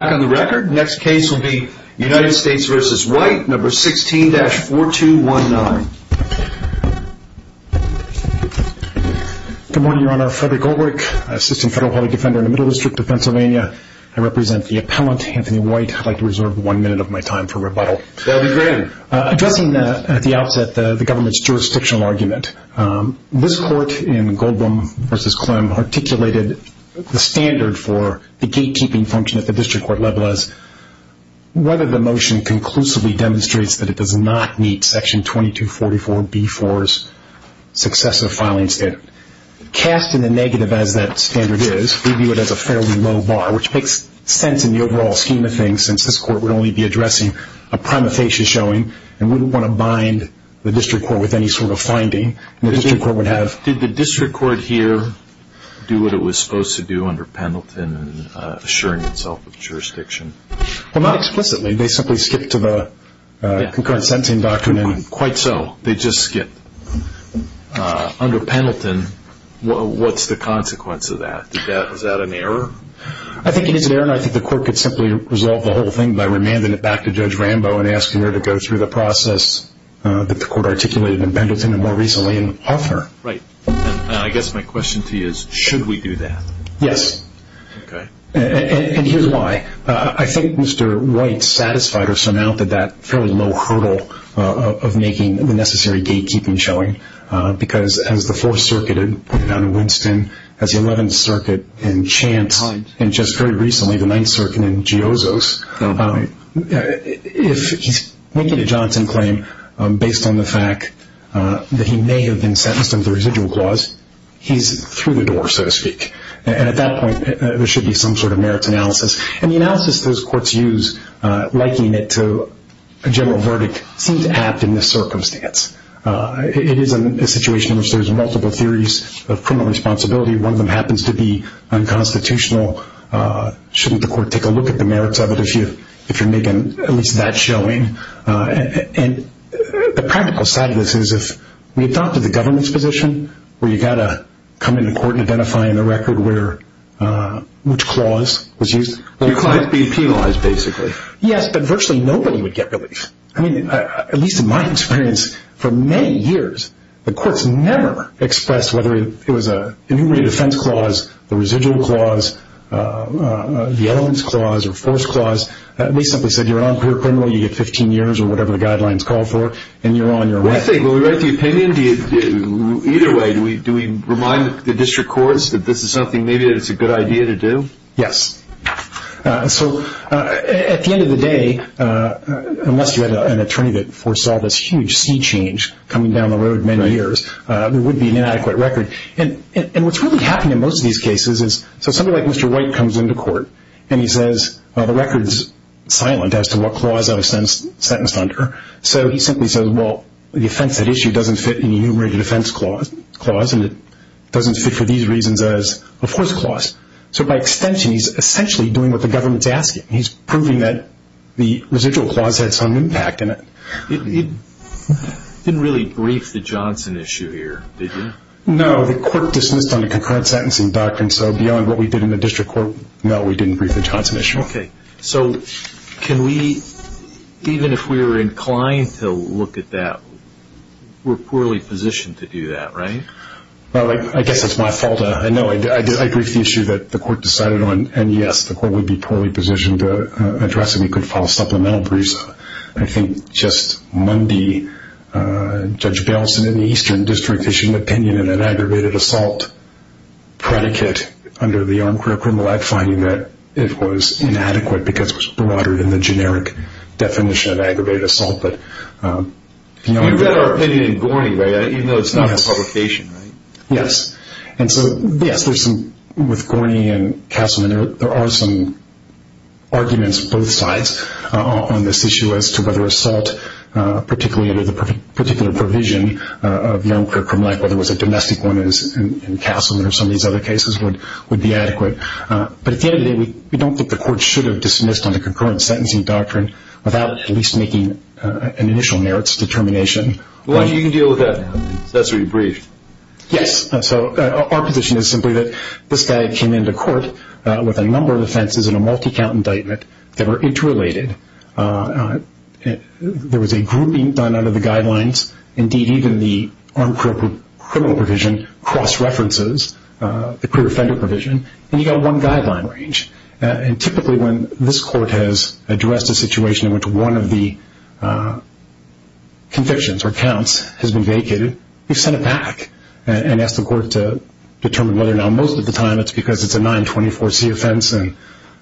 Good morning your honor, Frederick Goldberg, assistant federal public defender in the Middle District of Pennsylvania. I represent the appellant Anthony White. I'd like to reserve one minute of my time for rebuttal. That would be great. Addressing at the outset the government's jurisdictional argument, this court in Goldberg v. Clem articulated the standard for the gatekeeping function at the district court level as whether the motion conclusively demonstrates that it does not meet section 2244b-4's successive filing standard. Cast in the negative as that standard is, we view it as a fairly low bar, which makes sense in the overall scheme of things since this court would only be addressing a primatation showing and wouldn't want to bind the district court with any sort of finding. Did the district court here do what it was supposed to do under Pendleton in assuring itself of jurisdiction? Well, not explicitly. They simply skipped to the concurrent sentencing document. Quite so. They just skipped. Under Pendleton, what's the consequence of that? Is that an error? I think it is an error and I think the court could simply resolve the whole thing by remanding it back to Judge Rambo and asking her to go through the process that the court articulated in Pendleton and more recently in Hoffner. Right. I guess my question to you is, should we do that? Yes. And here's why. I think Mr. White satisfied or surmounted that fairly low hurdle of making the necessary gatekeeping showing because as the Fourth Circuit in Winston, as the Eleventh Circuit in Chance, and just very recently the Ninth Circuit in Geozo's, if he's making a Johnson claim based on the fact that he may have been sentenced under the residual clause, he's through the door, so to speak. And at that point there should be some sort of merits analysis. And the analysis those courts use, liking it to a general verdict, seems apt in this circumstance. It is a situation in which there's multiple theories of criminal responsibility. One of them happens to be unconstitutional. Shouldn't the court take a look at the merits of it if you're making at least that showing? And the practical side of this is if we adopted the government's position where you've got to come into court and identify in the record which clause was used. Your client being penalized, basically. Yes, but virtually nobody would get relief. I mean, at least in my experience, for many years the courts never expressed whether it was an enumerated offense clause, the residual clause, the elements clause, or force clause. They simply said you're a criminal, you get 15 years or whatever the guidelines call for, and you're on your way. I think when we write the opinion, either way, do we remind the district courts that this is something maybe that it's a good idea to do? Yes. So at the end of the day, unless you had an attorney that foresaw this huge sea change coming down the road many years, there would be an inadequate record. And what's really happened in most of these cases is somebody like Mr. White comes into court and he says, well, the record's silent as to what clause I was sentenced under. So he simply says, well, the offense at issue doesn't fit an enumerated offense clause, and it doesn't fit for these reasons as a force clause. So by extension, he's essentially doing what the government's asking. He's proving that the residual clause had some impact in it. You didn't really brief the Johnson issue here, did you? No. The court dismissed on a concurrent sentencing doctrine, so beyond what we did in the district court, no, we didn't brief the Johnson issue. Okay. So can we, even if we were inclined to look at that, we're poorly positioned to do that, right? Well, I guess it's my fault. I know. I briefed the issue that the court decided on, and, yes, the court would be poorly positioned to address it. We could file a supplemental brief. I think just Monday, Judge Baleson in the Eastern District issued an opinion in an aggravated assault predicate under the Armed Criminal Act, finding that it was inadequate because it was broader than the generic definition of aggravated assault. You read our opinion in Gorney, right, even though it's not in the publication, right? Yes. And so, yes, with Gorney and Castleman, there are some arguments both sides on this issue as to whether assault, particularly under the particular provision of the Armed Criminal Act, whether it was a domestic one in Castleman or some of these other cases, would be adequate. But at the end of the day, we don't think the court should have dismissed on the concurrent sentencing doctrine without at least making an initial merits determination. Well, you can deal with that now. That's what you briefed. Yes. So our position is simply that this guy came into court with a number of offenses and a multi-count indictment that were interrelated. There was a grouping done under the guidelines. Indeed, even the Armed Criminal Provision cross-references the pre-offender provision, and you got one guideline range. And typically when this court has addressed a situation in which one of the convictions or counts has been vacated, you send it back and ask the court to determine whether or not most of the time it's because it's a 924C offense and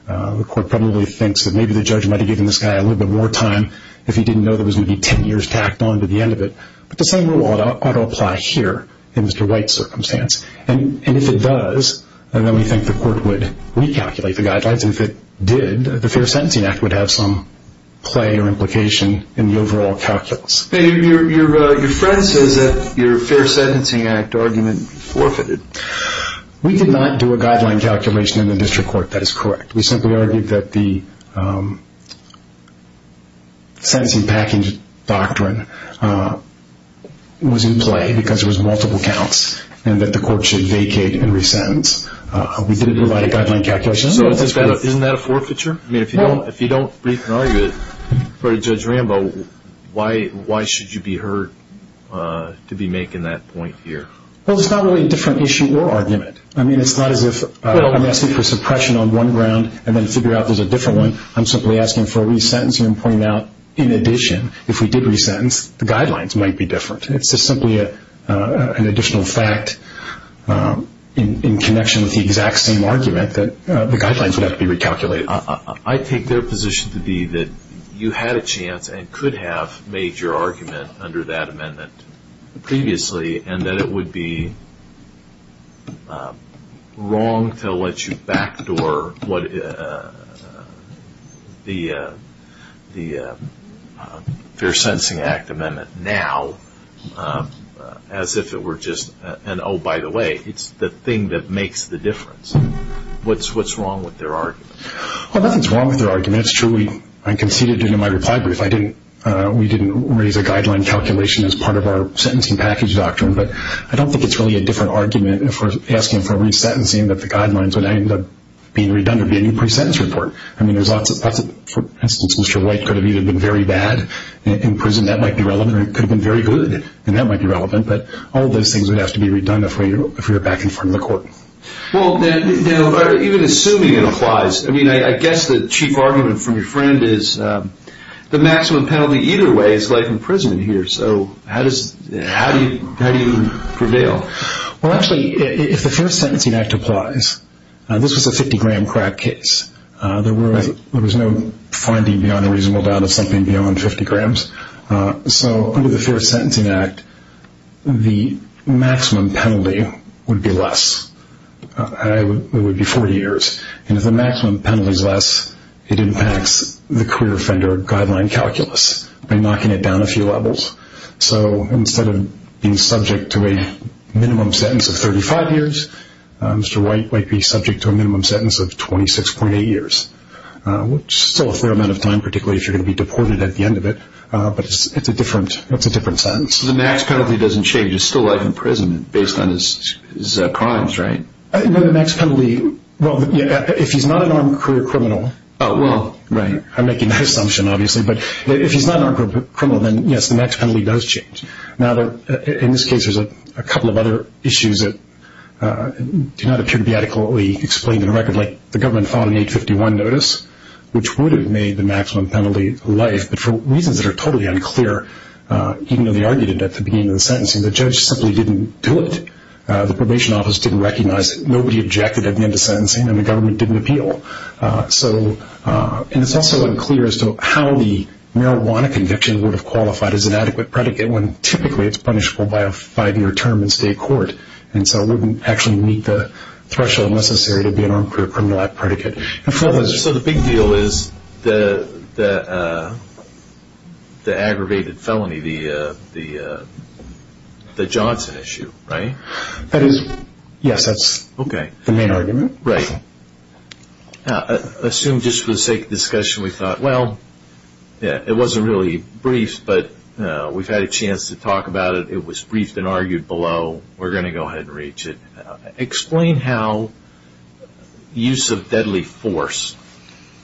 the court probably thinks that maybe the judge might have given this guy a little bit more time if he didn't know there was going to be ten years tacked on to the end of it. But the same rule ought to apply here in Mr. White's circumstance. And if it does, then we think the court would recalculate the guidelines. And if it did, the Fair Sentencing Act would have some play or implication in the overall calculus. Your friend says that your Fair Sentencing Act argument forfeited. We did not do a guideline calculation in the district court. That is correct. We simply argued that the sentencing package doctrine was in play because there was multiple counts and that the court should vacate and resentence. We didn't provide a guideline calculation. So isn't that a forfeiture? I mean, if you don't brief an argument for Judge Rambo, why should you be heard to be making that point here? Well, it's not really a different issue or argument. I mean, it's not as if I'm asking for suppression on one ground and then figure out there's a different one. I'm simply asking for a resentencing and pointing out in addition, if we did resentence, the guidelines might be different. It's just simply an additional fact in connection with the exact same argument that the guidelines would have to be recalculated. I take their position to be that you had a chance and could have made your argument under that amendment previously and that it would be wrong to let you backdoor the Fair Sentencing Act amendment now as if it were just an, oh, by the way, it's the thing that makes the difference. What's wrong with their argument? Well, nothing's wrong with their argument. It's true I conceded it in my reply brief. We didn't raise a guideline calculation as part of our sentencing package doctrine, but I don't think it's really a different argument if we're asking for resentencing that the guidelines would end up being redundant, be a new pre-sentence report. I mean, for instance, Mr. White could have either been very bad in prison, that might be relevant, or he could have been very good, and that might be relevant. But all those things would have to be redundant if we were back in front of the court. Well, then, even assuming it applies, I mean, I guess the chief argument from your friend is the maximum penalty either way is life in prison here. So how do you prevail? Well, actually, if the Fair Sentencing Act applies, this was a 50-gram crack case. There was no finding beyond a reasonable doubt of something beyond 50 grams. So under the Fair Sentencing Act, the maximum penalty would be less. It would be 40 years. And if the maximum penalty is less, it impacts the career offender guideline calculus by knocking it down a few levels. So instead of being subject to a minimum sentence of 35 years, Mr. White might be subject to a minimum sentence of 26.8 years, which is still a fair amount of time, particularly if you're going to be deported at the end of it. But it's a different sentence. So the max penalty doesn't change. It's still life in prison based on his crimes, right? No, the max penalty, well, if he's not an armed career criminal. Oh, well. Right. I'm making that assumption, obviously. But if he's not an armed career criminal, then, yes, the max penalty does change. Now, in this case, there's a couple of other issues that do not appear to be adequately explained in a record like the government filed an 851 notice, which would have made the maximum penalty life. But for reasons that are totally unclear, even though they argued it at the beginning of the sentencing, the judge simply didn't do it. The probation office didn't recognize it. Nobody objected at the end of sentencing, and the government didn't appeal. And it's also unclear as to how the marijuana conviction would have qualified as an adequate predicate when typically it's punishable by a five-year term in state court. And so it wouldn't actually meet the threshold necessary to be an armed career criminal at predicate. So the big deal is the aggravated felony, the Johnson issue, right? Yes, that's the main argument. Right. I assume just for the sake of discussion, we thought, well, it wasn't really brief, but we've had a chance to talk about it. It was briefed and argued below. We're going to go ahead and reach it. Explain how use of deadly force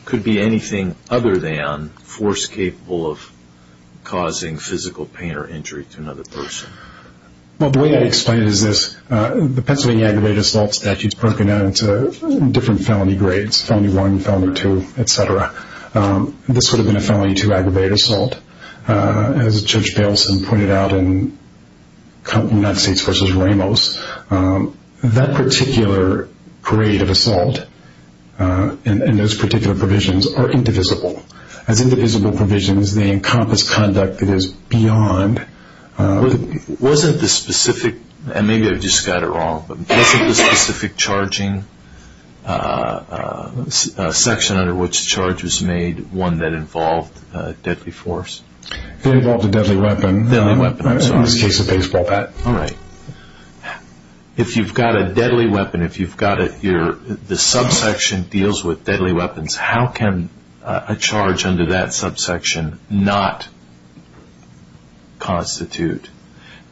could be anything other than force capable of causing physical pain or injury to another person. Well, the way I'd explain it is this. The Pennsylvania aggravated assault statute is broken down into different felony grades, felony one, felony two, et cetera. This would have been a felony two aggravated assault. As Judge Baleson pointed out in United States v. Ramos, that particular grade of assault and those particular provisions are indivisible. As indivisible provisions, they encompass conduct that is beyond. Wasn't the specific, and maybe I just got it wrong, wasn't the specific charging section under which charge was made one that involved deadly force? It involved a deadly weapon. In this case, a baseball bat. All right. If you've got a deadly weapon, if the subsection deals with deadly weapons, how can a charge under that subsection not constitute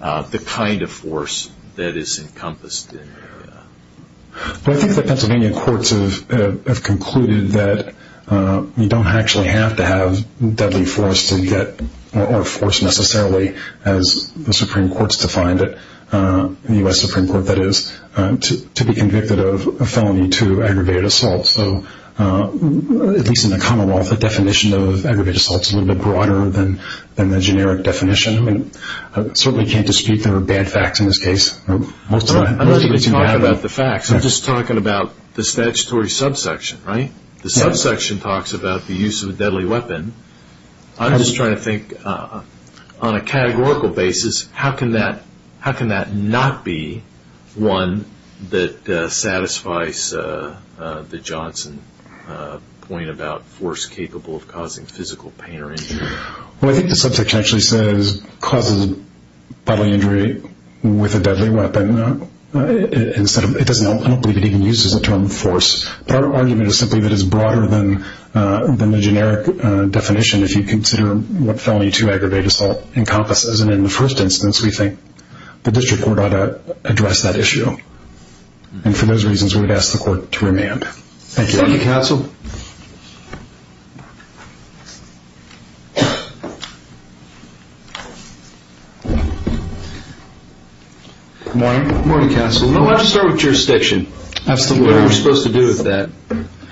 the kind of force that is encompassed? I think the Pennsylvania courts have concluded that you don't actually have to have deadly force or force necessarily as the Supreme Court has defined it, the U.S. Supreme Court that is, to be convicted of a felony two aggravated assault. At least in the common law, the definition of aggravated assault is a little bit broader than the generic definition. I certainly can't dispute there are bad facts in this case. I'm not even talking about the facts. I'm just talking about the statutory subsection. The subsection talks about the use of a deadly weapon. I'm just trying to think on a categorical basis, how can that not be one that satisfies the Johnson point about force capable of causing physical pain or injury? Well, I think the subsection actually says causes bodily injury with a deadly weapon. I don't believe it even uses the term force. Our argument is simply that it's broader than the generic definition if you consider what felony two aggravated assault encompasses. In the first instance, we think the district court ought to address that issue. For those reasons, we would ask the court to remand. Thank you. Thank you, counsel. Good morning. Good morning, counsel. Let's start with jurisdiction. Absolutely. What are we supposed to do with that?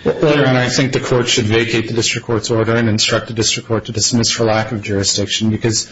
I think the court should vacate the district court's order and instruct the district court to dismiss for lack of jurisdiction because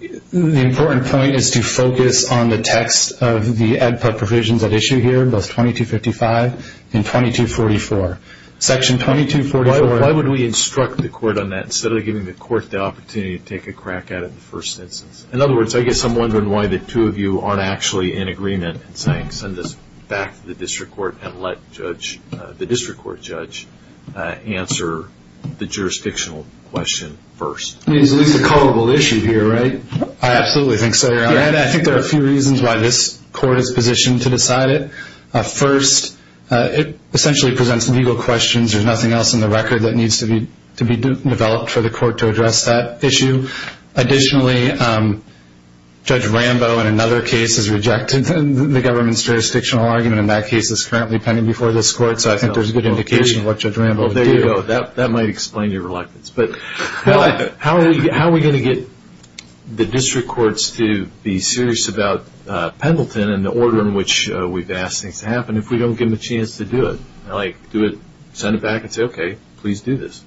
the important point is to focus on the text of the EDPA provisions at issue here, both 2255 and 2244. Section 2244. Why would we instruct the court on that instead of giving the court the opportunity to take a crack at it in the first instance? In other words, I guess I'm wondering why the two of you aren't actually in agreement and saying send this back to the district court and let the district court judge answer the jurisdictional question first. I mean, it's at least a culpable issue here, right? I absolutely think so, Your Honor. I think there are a few reasons why this court is positioned to decide it. First, it essentially presents legal questions. There's nothing else in the record that needs to be developed for the court to address that issue. Additionally, Judge Rambo in another case has rejected the government's jurisdictional argument and that case is currently pending before this court, so I think there's good indication of what Judge Rambo would do. Well, there you go. That might explain your reluctance. How are we going to get the district courts to be serious about Pendleton and the order in which we've asked things to happen if we don't give them a chance to do it? Like send it back and say, okay, please do this.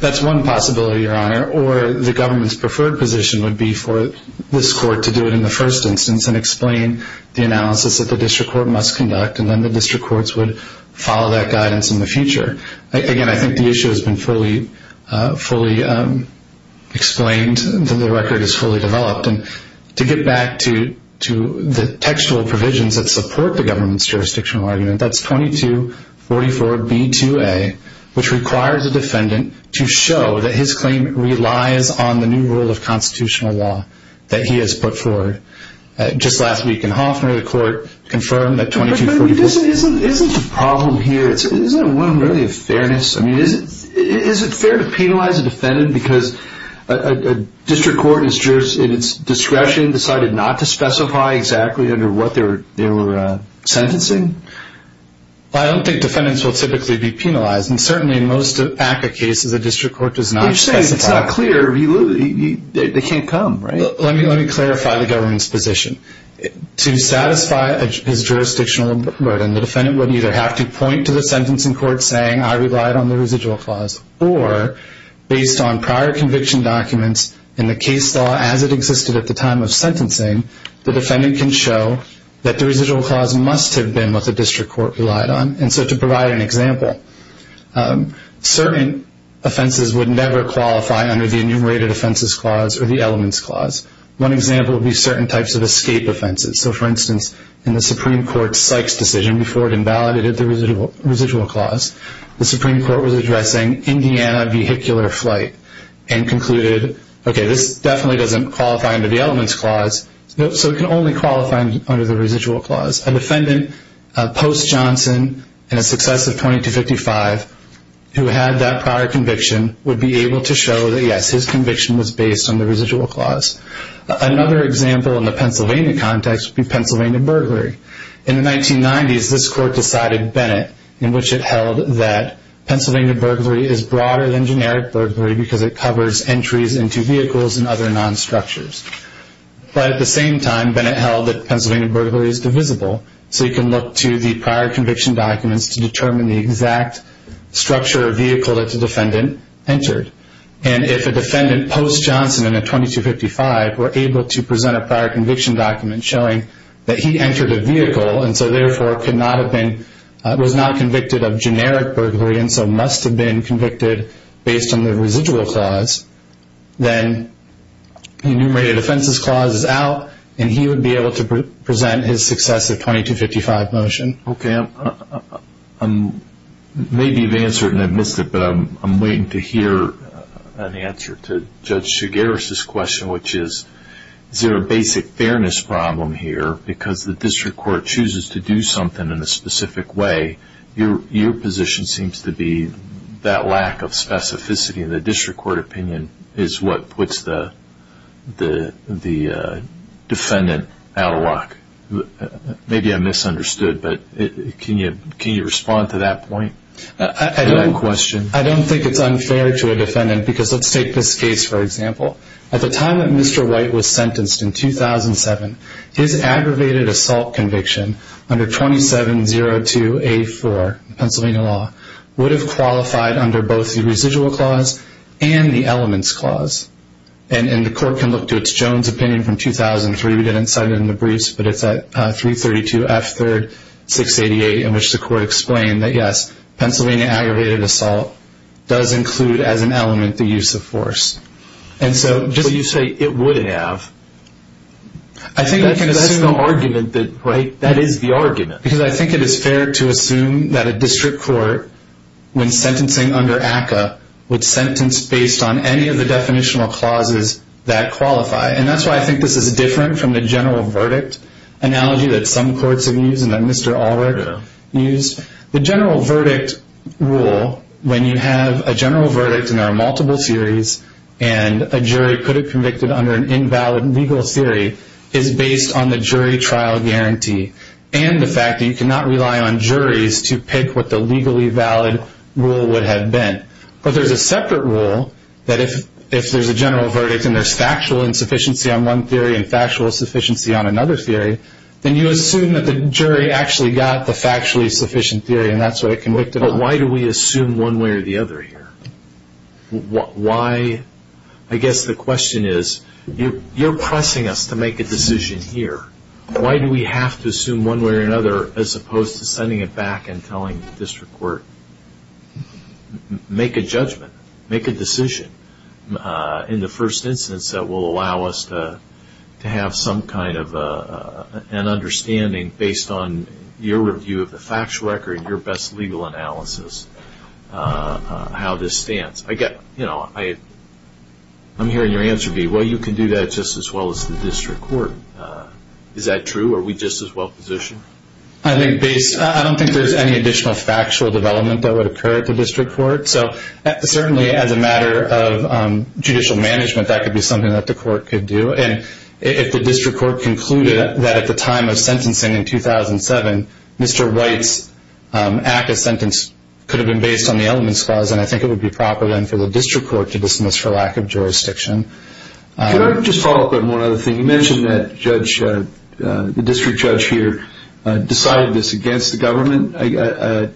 That's one possibility, Your Honor, or the government's preferred position would be for this court to do it in the first instance and explain the analysis that the district court must conduct and then the district courts would follow that guidance in the future. Again, I think the issue has been fully explained and the record is fully developed. To get back to the textual provisions that support the government's jurisdictional argument, that's 2244B2A, which requires a defendant to show that his claim relies on the new rule of constitutional law that he has put forward. Just last week in Hofner, the court confirmed that 2244B2A… But isn't the problem here, isn't there really a fairness? I mean, is it fair to penalize a defendant because a district court and its discretion decided not to specify exactly under what they were sentencing? I don't think defendants will typically be penalized, and certainly in most ACCA cases a district court does not specify. You're saying it's not clear. They can't come, right? Let me clarify the government's position. To satisfy his jurisdictional burden, the defendant would either have to point to the sentencing court saying, I relied on the residual clause, or based on prior conviction documents in the case law as it existed at the time of sentencing, the defendant can show that the residual clause must have been what the district court relied on. And so to provide an example, certain offenses would never qualify under the enumerated offenses clause or the elements clause. One example would be certain types of escape offenses. So, for instance, in the Supreme Court's Sykes decision, before it invalidated the residual clause, the Supreme Court was addressing Indiana vehicular flight and concluded, okay, this definitely doesn't qualify under the elements clause, so it can only qualify under the residual clause. A defendant post-Johnson, in a success of 2255, who had that prior conviction would be able to show that, yes, his conviction was based on the residual clause. Another example in the Pennsylvania context would be Pennsylvania burglary. In the 1990s, this court decided Bennett, in which it held that Pennsylvania burglary is broader than generic burglary because it covers entries into vehicles and other non-structures. But at the same time, Bennett held that Pennsylvania burglary is divisible, so you can look to the prior conviction documents to determine the exact structure of vehicle that the defendant entered. And if a defendant post-Johnson in a 2255 were able to present a prior conviction document showing that he entered a vehicle and so therefore was not convicted of generic burglary and so must have been convicted based on the residual clause, then the enumerated offenses clause is out and he would be able to present his success of 2255 motion. Okay. Maybe you've answered and I've missed it, but I'm waiting to hear an answer to Judge Sugaris' question, which is is there a basic fairness problem here because the district court chooses to do something in a specific way? Your position seems to be that lack of specificity in the district court opinion is what puts the defendant out of luck. Maybe I misunderstood, but can you respond to that point? I don't think it's unfair to a defendant because let's take this case, for example. At the time that Mr. White was sentenced in 2007, his aggravated assault conviction under 2702A4, Pennsylvania law, would have qualified under both the residual clause and the elements clause. And the court can look to its Jones opinion from 2003. We didn't cite it in the briefs, but it's at 332F3-688, in which the court explained that, yes, Pennsylvania aggravated assault does include as an element the use of force. But you say it would have. That is the argument. Because I think it is fair to assume that a district court, when sentencing under ACCA, would sentence based on any of the definitional clauses that qualify. And that's why I think this is different from the general verdict analogy that some courts have used and that Mr. Allred used. The general verdict rule, when you have a general verdict and there are multiple theories, and a jury could have convicted under an invalid legal theory, is based on the jury trial guarantee and the fact that you cannot rely on juries to pick what the legally valid rule would have been. But there's a separate rule that if there's a general verdict and there's factual insufficiency on one theory and factual sufficiency on another theory, then you assume that the jury actually got the factually sufficient theory and that's what it convicted on. But why do we assume one way or the other here? I guess the question is, you're pressing us to make a decision here. Why do we have to assume one way or another as opposed to sending it back and telling the district court, make a judgment, make a decision in the first instance that will allow us to have some kind of an understanding based on your review of the factual record, your best legal analysis, how this stands? I'm hearing your answer, B. Well, you can do that just as well as the district court. Is that true? Are we just as well positioned? I don't think there's any additional factual development that would occur at the district court. Certainly, as a matter of judicial management, that could be something that the court could do. If the district court concluded that at the time of sentencing in 2007, Mr. White's act of sentence could have been based on the elements clause, then I think it would be proper for the district court to dismiss for lack of jurisdiction. Can I just follow up on one other thing? You mentioned that the district judge here decided this against the government.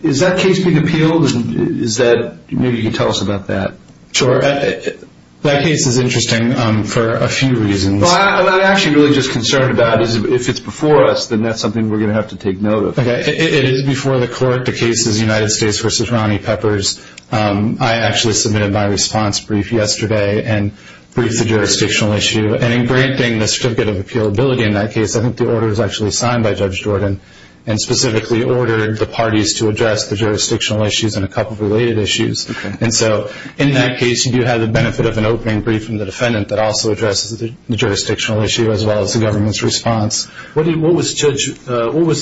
Is that case being appealed? Maybe you can tell us about that. Sure. That case is interesting for a few reasons. What I'm actually really just concerned about is if it's before us, then that's something we're going to have to take note of. Okay. It is before the court. The case is United States v. Ronnie Peppers. I actually submitted my response brief yesterday and briefed the jurisdictional issue. And in granting the certificate of appealability in that case, I think the order was actually signed by Judge Jordan and specifically ordered the parties to address the jurisdictional issues and a couple of related issues. Okay. And so in that case, you do have the benefit of an opening brief from the defendant that also addresses the jurisdictional issue as well as the government's response. What was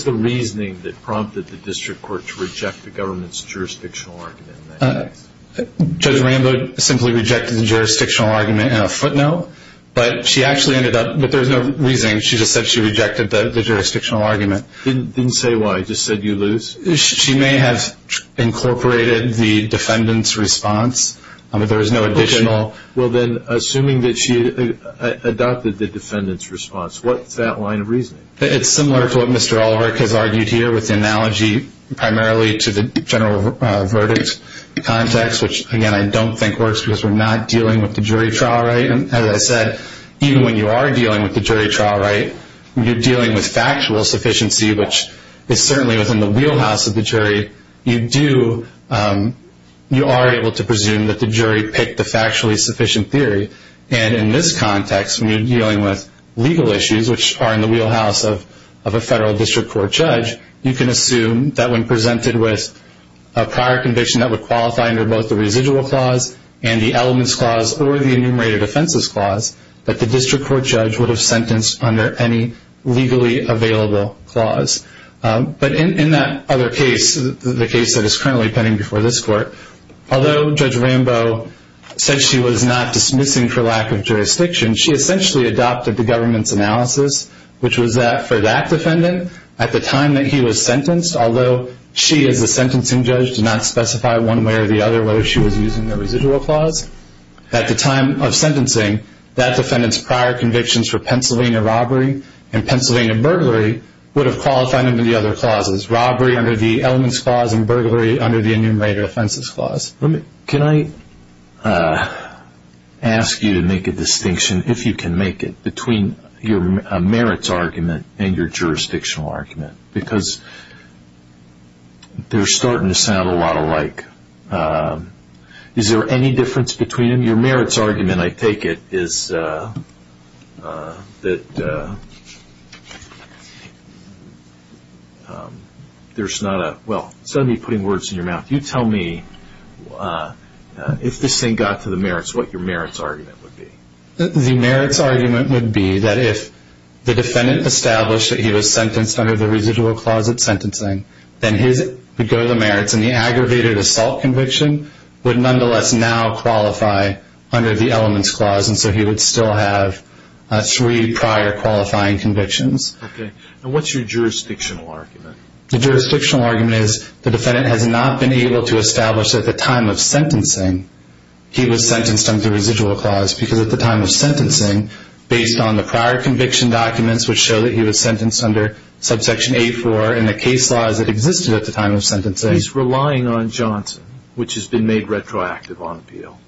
the reasoning that prompted the district court to reject the government's jurisdictional argument in that case? Judge Rambo simply rejected the jurisdictional argument in a footnote, but she actually ended up – but there was no reasoning. She just said she rejected the jurisdictional argument. Didn't say why. Just said you lose? She may have incorporated the defendant's response, but there was no additional. Well, then, assuming that she adopted the defendant's response, what's that line of reasoning? It's similar to what Mr. Ulrich has argued here with the analogy primarily to the general verdict context, which, again, I don't think works because we're not dealing with the jury trial right. And as I said, even when you are dealing with the jury trial right, you're dealing with factual sufficiency, which is certainly within the wheelhouse of the jury. You are able to presume that the jury picked a factually sufficient theory. And in this context, when you're dealing with legal issues, which are in the wheelhouse of a federal district court judge, you can assume that when presented with a prior conviction that would qualify under both the residual clause and the elements clause or the enumerated offenses clause, that the district court judge would have sentenced under any legally available clause. But in that other case, the case that is currently pending before this court, although Judge Rambo said she was not dismissing for lack of jurisdiction, she essentially adopted the government's analysis, which was that for that defendant, at the time that he was sentenced, although she as the sentencing judge did not specify one way or the other whether she was using the residual clause, at the time of sentencing, that defendant's prior convictions for Pennsylvania robbery and Pennsylvania burglary would have qualified under the other clauses, robbery under the elements clause and burglary under the enumerated offenses clause. Can I ask you to make a distinction, if you can make it, between your merits argument and your jurisdictional argument? Because they're starting to sound a lot alike. Is there any difference between them? Your merits argument, I take it, is that there's not a – well, instead of me putting words in your mouth, you tell me if this thing got to the merits, what your merits argument would be. The merits argument would be that if the defendant established that he was sentenced under the residual clause at sentencing, then his would go to the merits, and the aggravated assault conviction would nonetheless now qualify under the elements clause, and so he would still have three prior qualifying convictions. Okay. And what's your jurisdictional argument? The jurisdictional argument is the defendant has not been able to establish that at the time of sentencing he was sentenced under the residual clause because at the time of sentencing, based on the prior conviction documents, which show that he was sentenced under subsection A-4 and the case laws that existed at the time of sentencing. He's relying on Johnson, which has been made retroactive on appeal.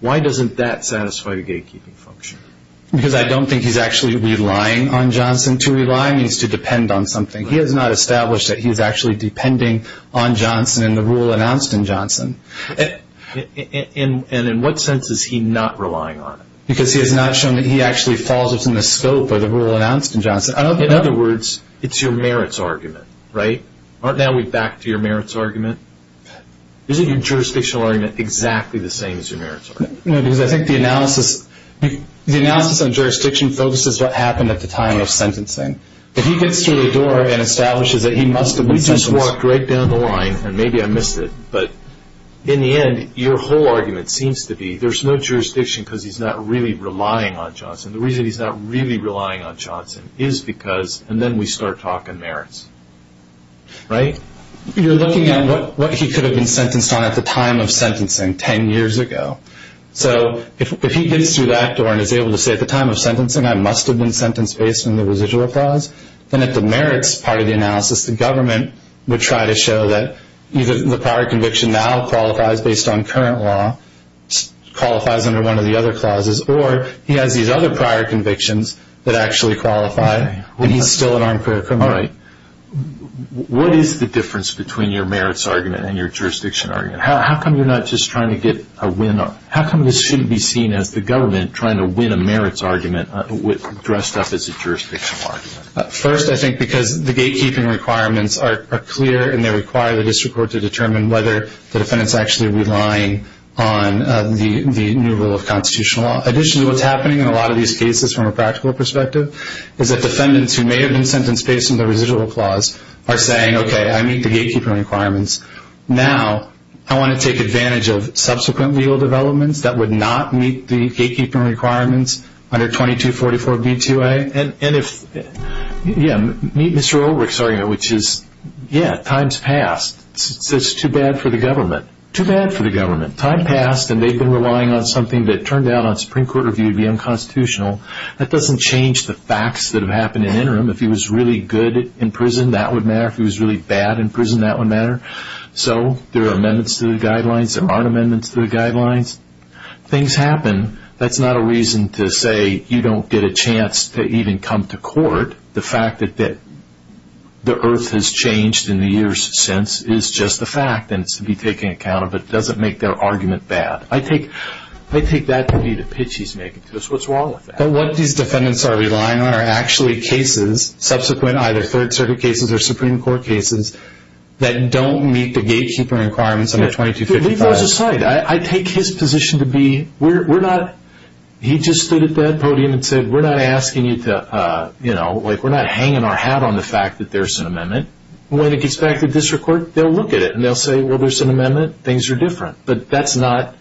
Why doesn't that satisfy the gatekeeping function? Because I don't think he's actually relying on Johnson. To rely means to depend on something. He has not established that he is actually depending on Johnson and the rule announced in Johnson. And in what sense is he not relying on him? Because he has not shown that he actually falls within the scope of the rule announced in Johnson. In other words, it's your merits argument, right? Aren't now we back to your merits argument? Isn't your jurisdictional argument exactly the same as your merits argument? No, because I think the analysis on jurisdiction focuses what happened at the time of sentencing. If he gets through the door and establishes that he must have been sentenced. We just walked right down the line, and maybe I missed it, but in the end, your whole argument seems to be there's no jurisdiction because he's not really relying on Johnson. The reason he's not really relying on Johnson is because, and then we start talking merits, right? You're looking at what he could have been sentenced on at the time of sentencing 10 years ago. So if he gets through that door and is able to say at the time of sentencing, I must have been sentenced based on the residual clause, then at the merits part of the analysis, the government would try to show that either the prior conviction now qualifies based on current law, qualifies under one of the other clauses, or he has these other prior convictions that actually qualify, and he's still an armed criminal. All right. What is the difference between your merits argument and your jurisdiction argument? How come you're not just trying to get a win? How come this shouldn't be seen as the government trying to win a merits argument dressed up as a jurisdiction argument? First, I think because the gatekeeping requirements are clear, and they require the district court to determine whether the defendant is actually relying on the new rule of constitutional law. Additionally, what's happening in a lot of these cases from a practical perspective is that defendants who may have been sentenced based on the residual clause are saying, okay, I meet the gatekeeping requirements. Now I want to take advantage of subsequent legal developments that would not meet the gatekeeping requirements under 2244b2a. Meet Mr. Ulrich's argument, which is, yeah, time's passed. It's too bad for the government. Too bad for the government. Time passed, and they've been relying on something that turned out on Supreme Court review to be unconstitutional. That doesn't change the facts that have happened in the interim. If he was really good in prison, that would matter. If he was really bad in prison, that would matter. So there are amendments to the guidelines. There aren't amendments to the guidelines. Things happen. That's not a reason to say you don't get a chance to even come to court. The fact that the earth has changed in the years since is just a fact, and it should be taken into account, but it doesn't make their argument bad. I take that to be the pitch he's making to us. What's wrong with that? What these defendants are relying on are actually cases, subsequent either Third Circuit cases or Supreme Court cases, that don't meet the gatekeeper requirements under 2255. I take his position to be, he just stood at that podium and said, we're not hanging our hat on the fact that there's an amendment. When it gets back to district court, they'll look at it and they'll say, well, there's an amendment, things are different. But that's not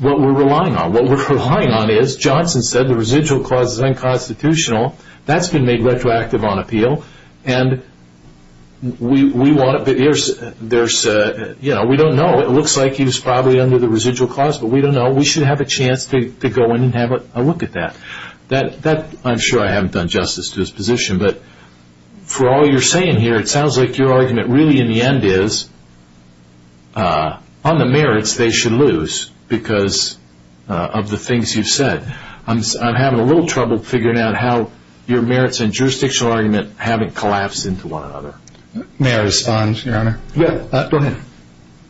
what we're relying on. What we're relying on is, Johnson said the residual clause is unconstitutional. That's been made retroactive on appeal. We don't know. It looks like he was probably under the residual clause, but we don't know. We should have a chance to go in and have a look at that. I'm sure I haven't done justice to his position, but for all you're saying here, it sounds like your argument really, in the end, is on the merits they should lose because of the things you've said. I'm having a little trouble figuring out how your merits and jurisdictional argument haven't collapsed into one another. May I respond, Your Honor? Yeah, go ahead.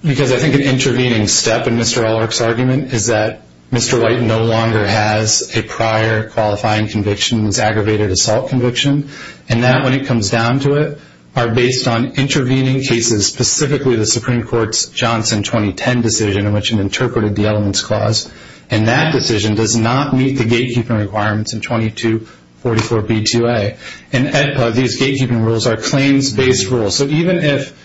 Because I think an intervening step in Mr. Ulrich's argument is that Mr. White no longer has a prior qualifying conviction, his aggravated assault conviction. And that, when it comes down to it, are based on intervening cases, specifically the Supreme Court's Johnson 2010 decision in which it interpreted the elements clause. And that decision does not meet the gatekeeping requirements in 2244B2A. In AEDPA, these gatekeeping rules are claims-based rules. So even if,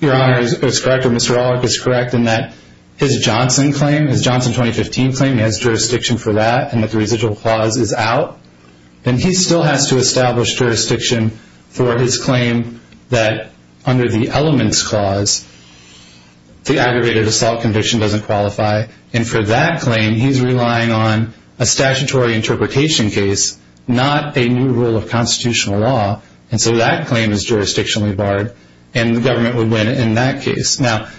Your Honor, it's correct or Mr. Ulrich is correct in that his Johnson claim, his Johnson 2015 claim, he has jurisdiction for that and that the residual clause is out, then he still has to establish jurisdiction for his claim that, under the elements clause, the aggravated assault conviction doesn't qualify. And for that claim, he's relying on a statutory interpretation case, not a new rule of constitutional law. And so that claim is jurisdictionally barred, and the government would win in that case. Now,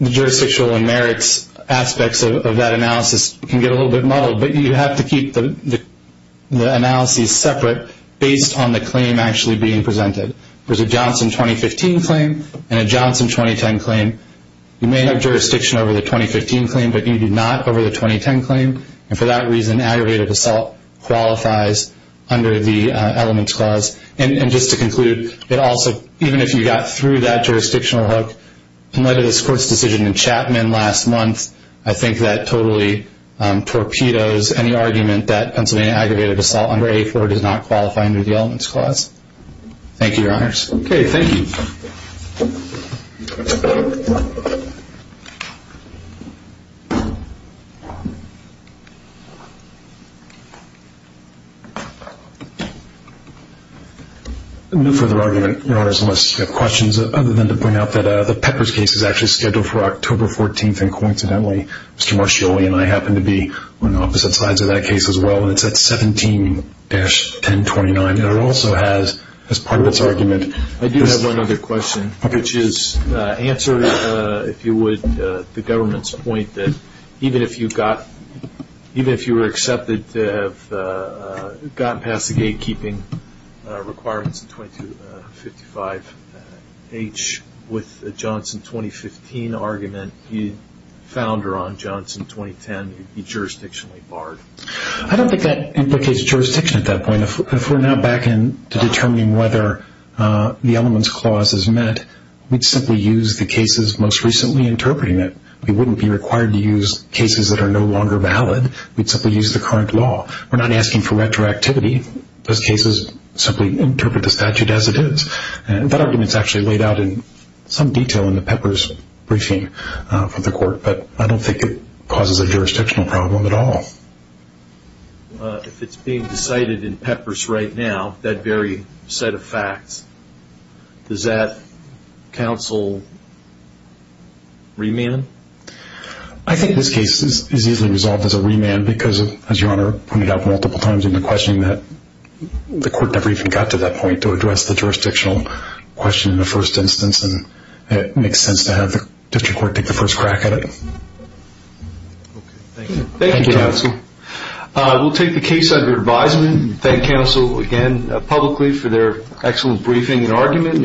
the jurisdictional and merits aspects of that analysis can get a little bit muddled, but you have to keep the analyses separate based on the claim actually being presented. There's a Johnson 2015 claim and a Johnson 2010 claim. You may have jurisdiction over the 2015 claim, but you do not over the 2010 claim. And for that reason, aggravated assault qualifies under the elements clause. And just to conclude, it also, even if you got through that jurisdictional hook, in light of this Court's decision in Chapman last month, I think that totally torpedoes any argument that Pennsylvania aggravated assault under A4 does not qualify under the elements clause. Thank you, Your Honors. Okay, thank you. No further argument, Your Honors, unless you have questions, other than to point out that the Peppers case is actually scheduled for October 14th. And coincidentally, Mr. Marscioli and I happen to be on the opposite sides of that case as well, and it's at 17-1029. And it also has, as part of its argument. I do have one other question, which is answer, if you would, the government's point that even if you got, even if you were accepted to have gotten past the gatekeeping requirements in 2255H with the Johnson 2015 argument, the founder on Johnson 2010 would be jurisdictionally barred. I don't think that implicates jurisdiction at that point. I mean, if we're now back into determining whether the elements clause is met, we'd simply use the cases most recently interpreting it. We wouldn't be required to use cases that are no longer valid. We'd simply use the current law. We're not asking for retroactivity. Those cases simply interpret the statute as it is. And that argument is actually laid out in some detail in the Peppers briefing for the Court, but I don't think it causes a jurisdictional problem at all. If it's being decided in Peppers right now, that very set of facts, does that counsel remand? I think this case is easily resolved as a remand because, as Your Honor pointed out multiple times in the questioning, that the Court never even got to that point to address the jurisdictional question in the first instance, and it makes sense to have the district court take the first crack at it. Thank you, counsel. We'll take the case under advisement. Thank counsel again publicly for their excellent briefing and argument.